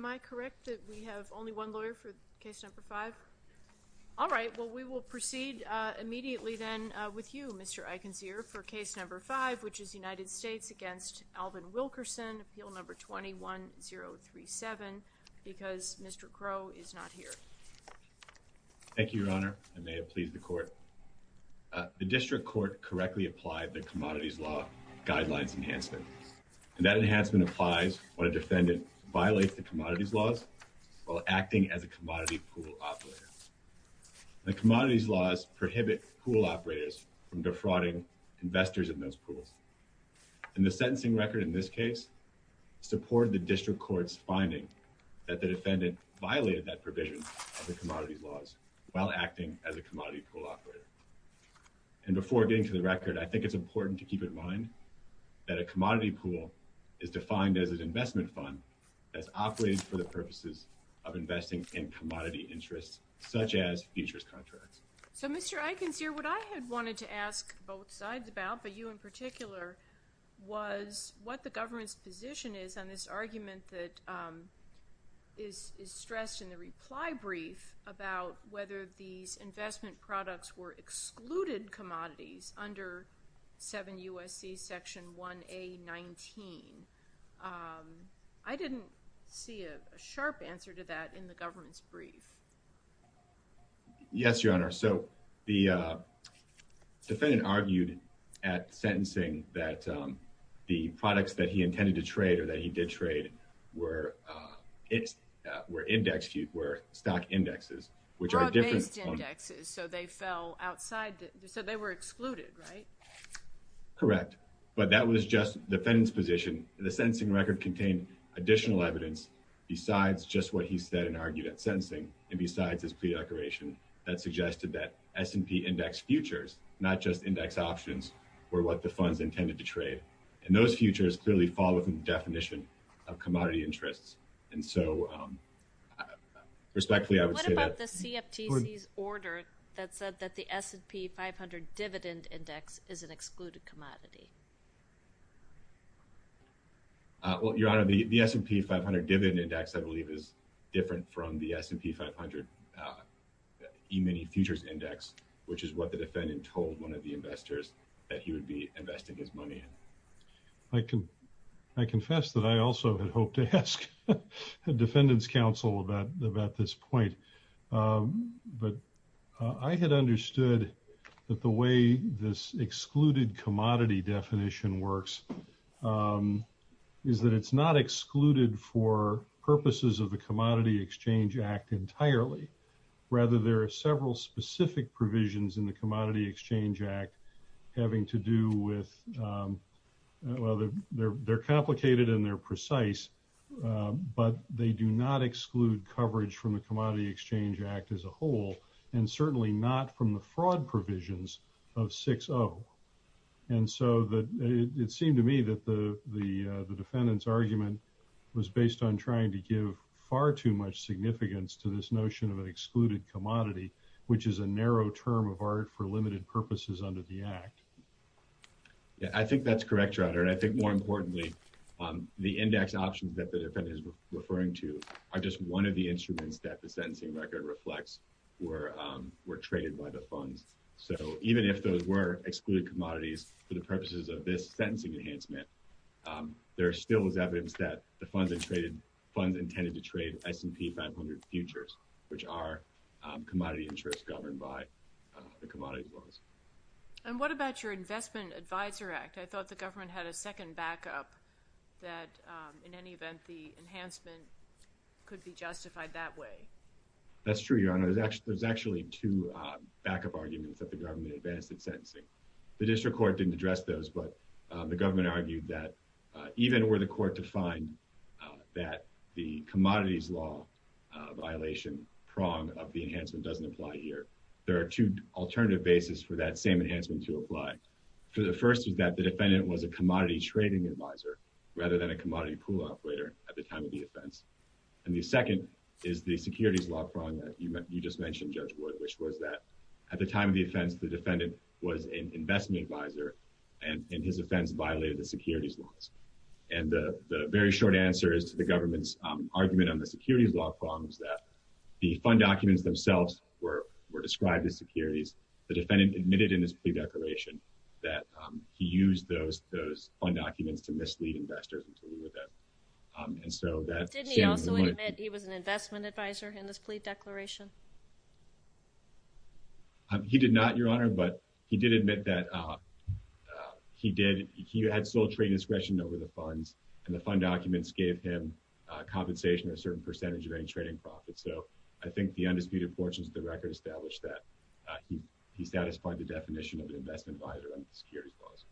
Thank you, Your Honor. I may have pleased the Court. The District Court correctly applied the Commodities Law Guidelines Enhancement, and that enhancement applies when a defendant violates the Commodities Laws while acting as a commodity pool operator. The Commodities Laws prohibit pool operators from defrauding investors in those pools. And the sentencing record in this case supported the District Court's finding that the defendant violated that provision of the Commodities Laws while acting as a commodity pool operator. And before getting to the record, I think it's important to keep in mind that a commodity pool is defined as an investment fund that's operated for the purposes of investing in commodity interests, such as futures contracts. So, Mr. Eikens, here, what I had wanted to ask both sides about, but you in particular, was what the government's position is on this argument that is stressed in the reply brief about whether these investment products were excluded commodities under 7 U.S.C. Section 1A.19. I didn't see a sharp answer to that in the government's brief. Yes, Your Honor. So, the defendant argued at sentencing that the products that he intended to trade or that he did trade were indexed, were stock indexes, which are a different form. Broad-based indexes, so they fell outside, so they were excluded, right? Correct. But that was just the defendant's position. The sentencing record contained additional evidence besides just what he said and argued at sentencing and besides his plea declaration that suggested that S&P indexed futures, not just index options, were what the funds intended to trade. And those futures clearly fall within the definition of commodity interests. And so, respectfully, I would say that... Well, Your Honor, the S&P 500 dividend index, I believe, is different from the S&P 500 e-mini futures index, which is what the defendant told one of the investors that he would be investing his money in. I confess that I also had hoped to ask the defendant's counsel about this point. But I had understood that the way this excluded commodity definition works is that it's not excluded for purposes of the Commodity Exchange Act entirely. Rather, there are several specific provisions in the Commodity Exchange Act having to do with... Well, they're complicated and they're precise, but they do not exclude coverage from the Commodity Exchange Act as a whole, and certainly not from the fraud provisions of 6-0. And so, it seemed to me that the defendant's argument was based on trying to give far too much significance to this notion of an excluded commodity, which is a narrow term of art for limited purposes under the Act. Yeah, I think that's correct, Your Honor. And I think, more importantly, the index options that the defendant is referring to are just one of the instruments that the sentencing record reflects were traded by the funds. So, even if those were excluded commodities for the purposes of this sentencing enhancement, there still is evidence that the funds intended to trade S&P 500 futures, which are commodity interests governed by the commodities laws. And what about your Investment Advisor Act? I thought the government had a second backup that in any event, the enhancement could be justified that way. That's true, Your Honor. There's actually two backup arguments that the government advanced in sentencing. The district court didn't address those, but the government argued that even were the court to find that the commodities law violation prong of the enhancement doesn't apply here. There are two alternative bases for that same enhancement to apply. The first is that the defendant was a commodity trading advisor rather than a commodity pool operator at the time of the offense. And the second is the securities law prong that you just mentioned, Judge Wood, which was that at the time of the offense, the defendant was an investment advisor, and his offense violated the securities laws. And the very short answer is to the government's argument on the securities law prong is that the fund documents themselves were described as securities. The defendant admitted in his plea declaration that he used those fund documents to mislead investors and to lure them. Did he also admit he was an investment advisor in this plea declaration? He did not, Your Honor, but he did admit that he had sole trade discretion over the funds, and the fund documents gave him compensation of a certain percentage of any trading profits. And so I think the undisputed portions of the record establish that he satisfied the definition of an investment advisor under the securities laws.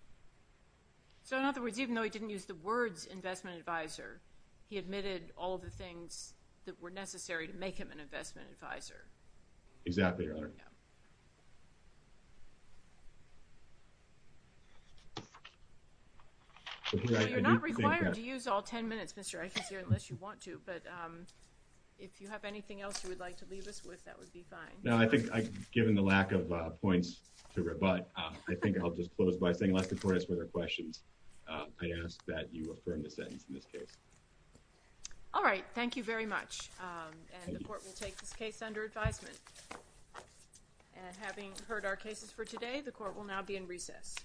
So in other words, even though he didn't use the words investment advisor, he admitted all of the things that were necessary to make him an investment advisor? Exactly, Your Honor. So you're not required to use all ten minutes, Mr. Aikens, here, unless you want to, but if you have anything else you would like to leave us with, that would be fine. No, I think I, given the lack of points to rebut, I think I'll just close by saying let's record this with our questions. I ask that you affirm the sentence in this case. All right, thank you very much. And the court will take this case under advisement. And having heard our cases for today, the court will now be in recess.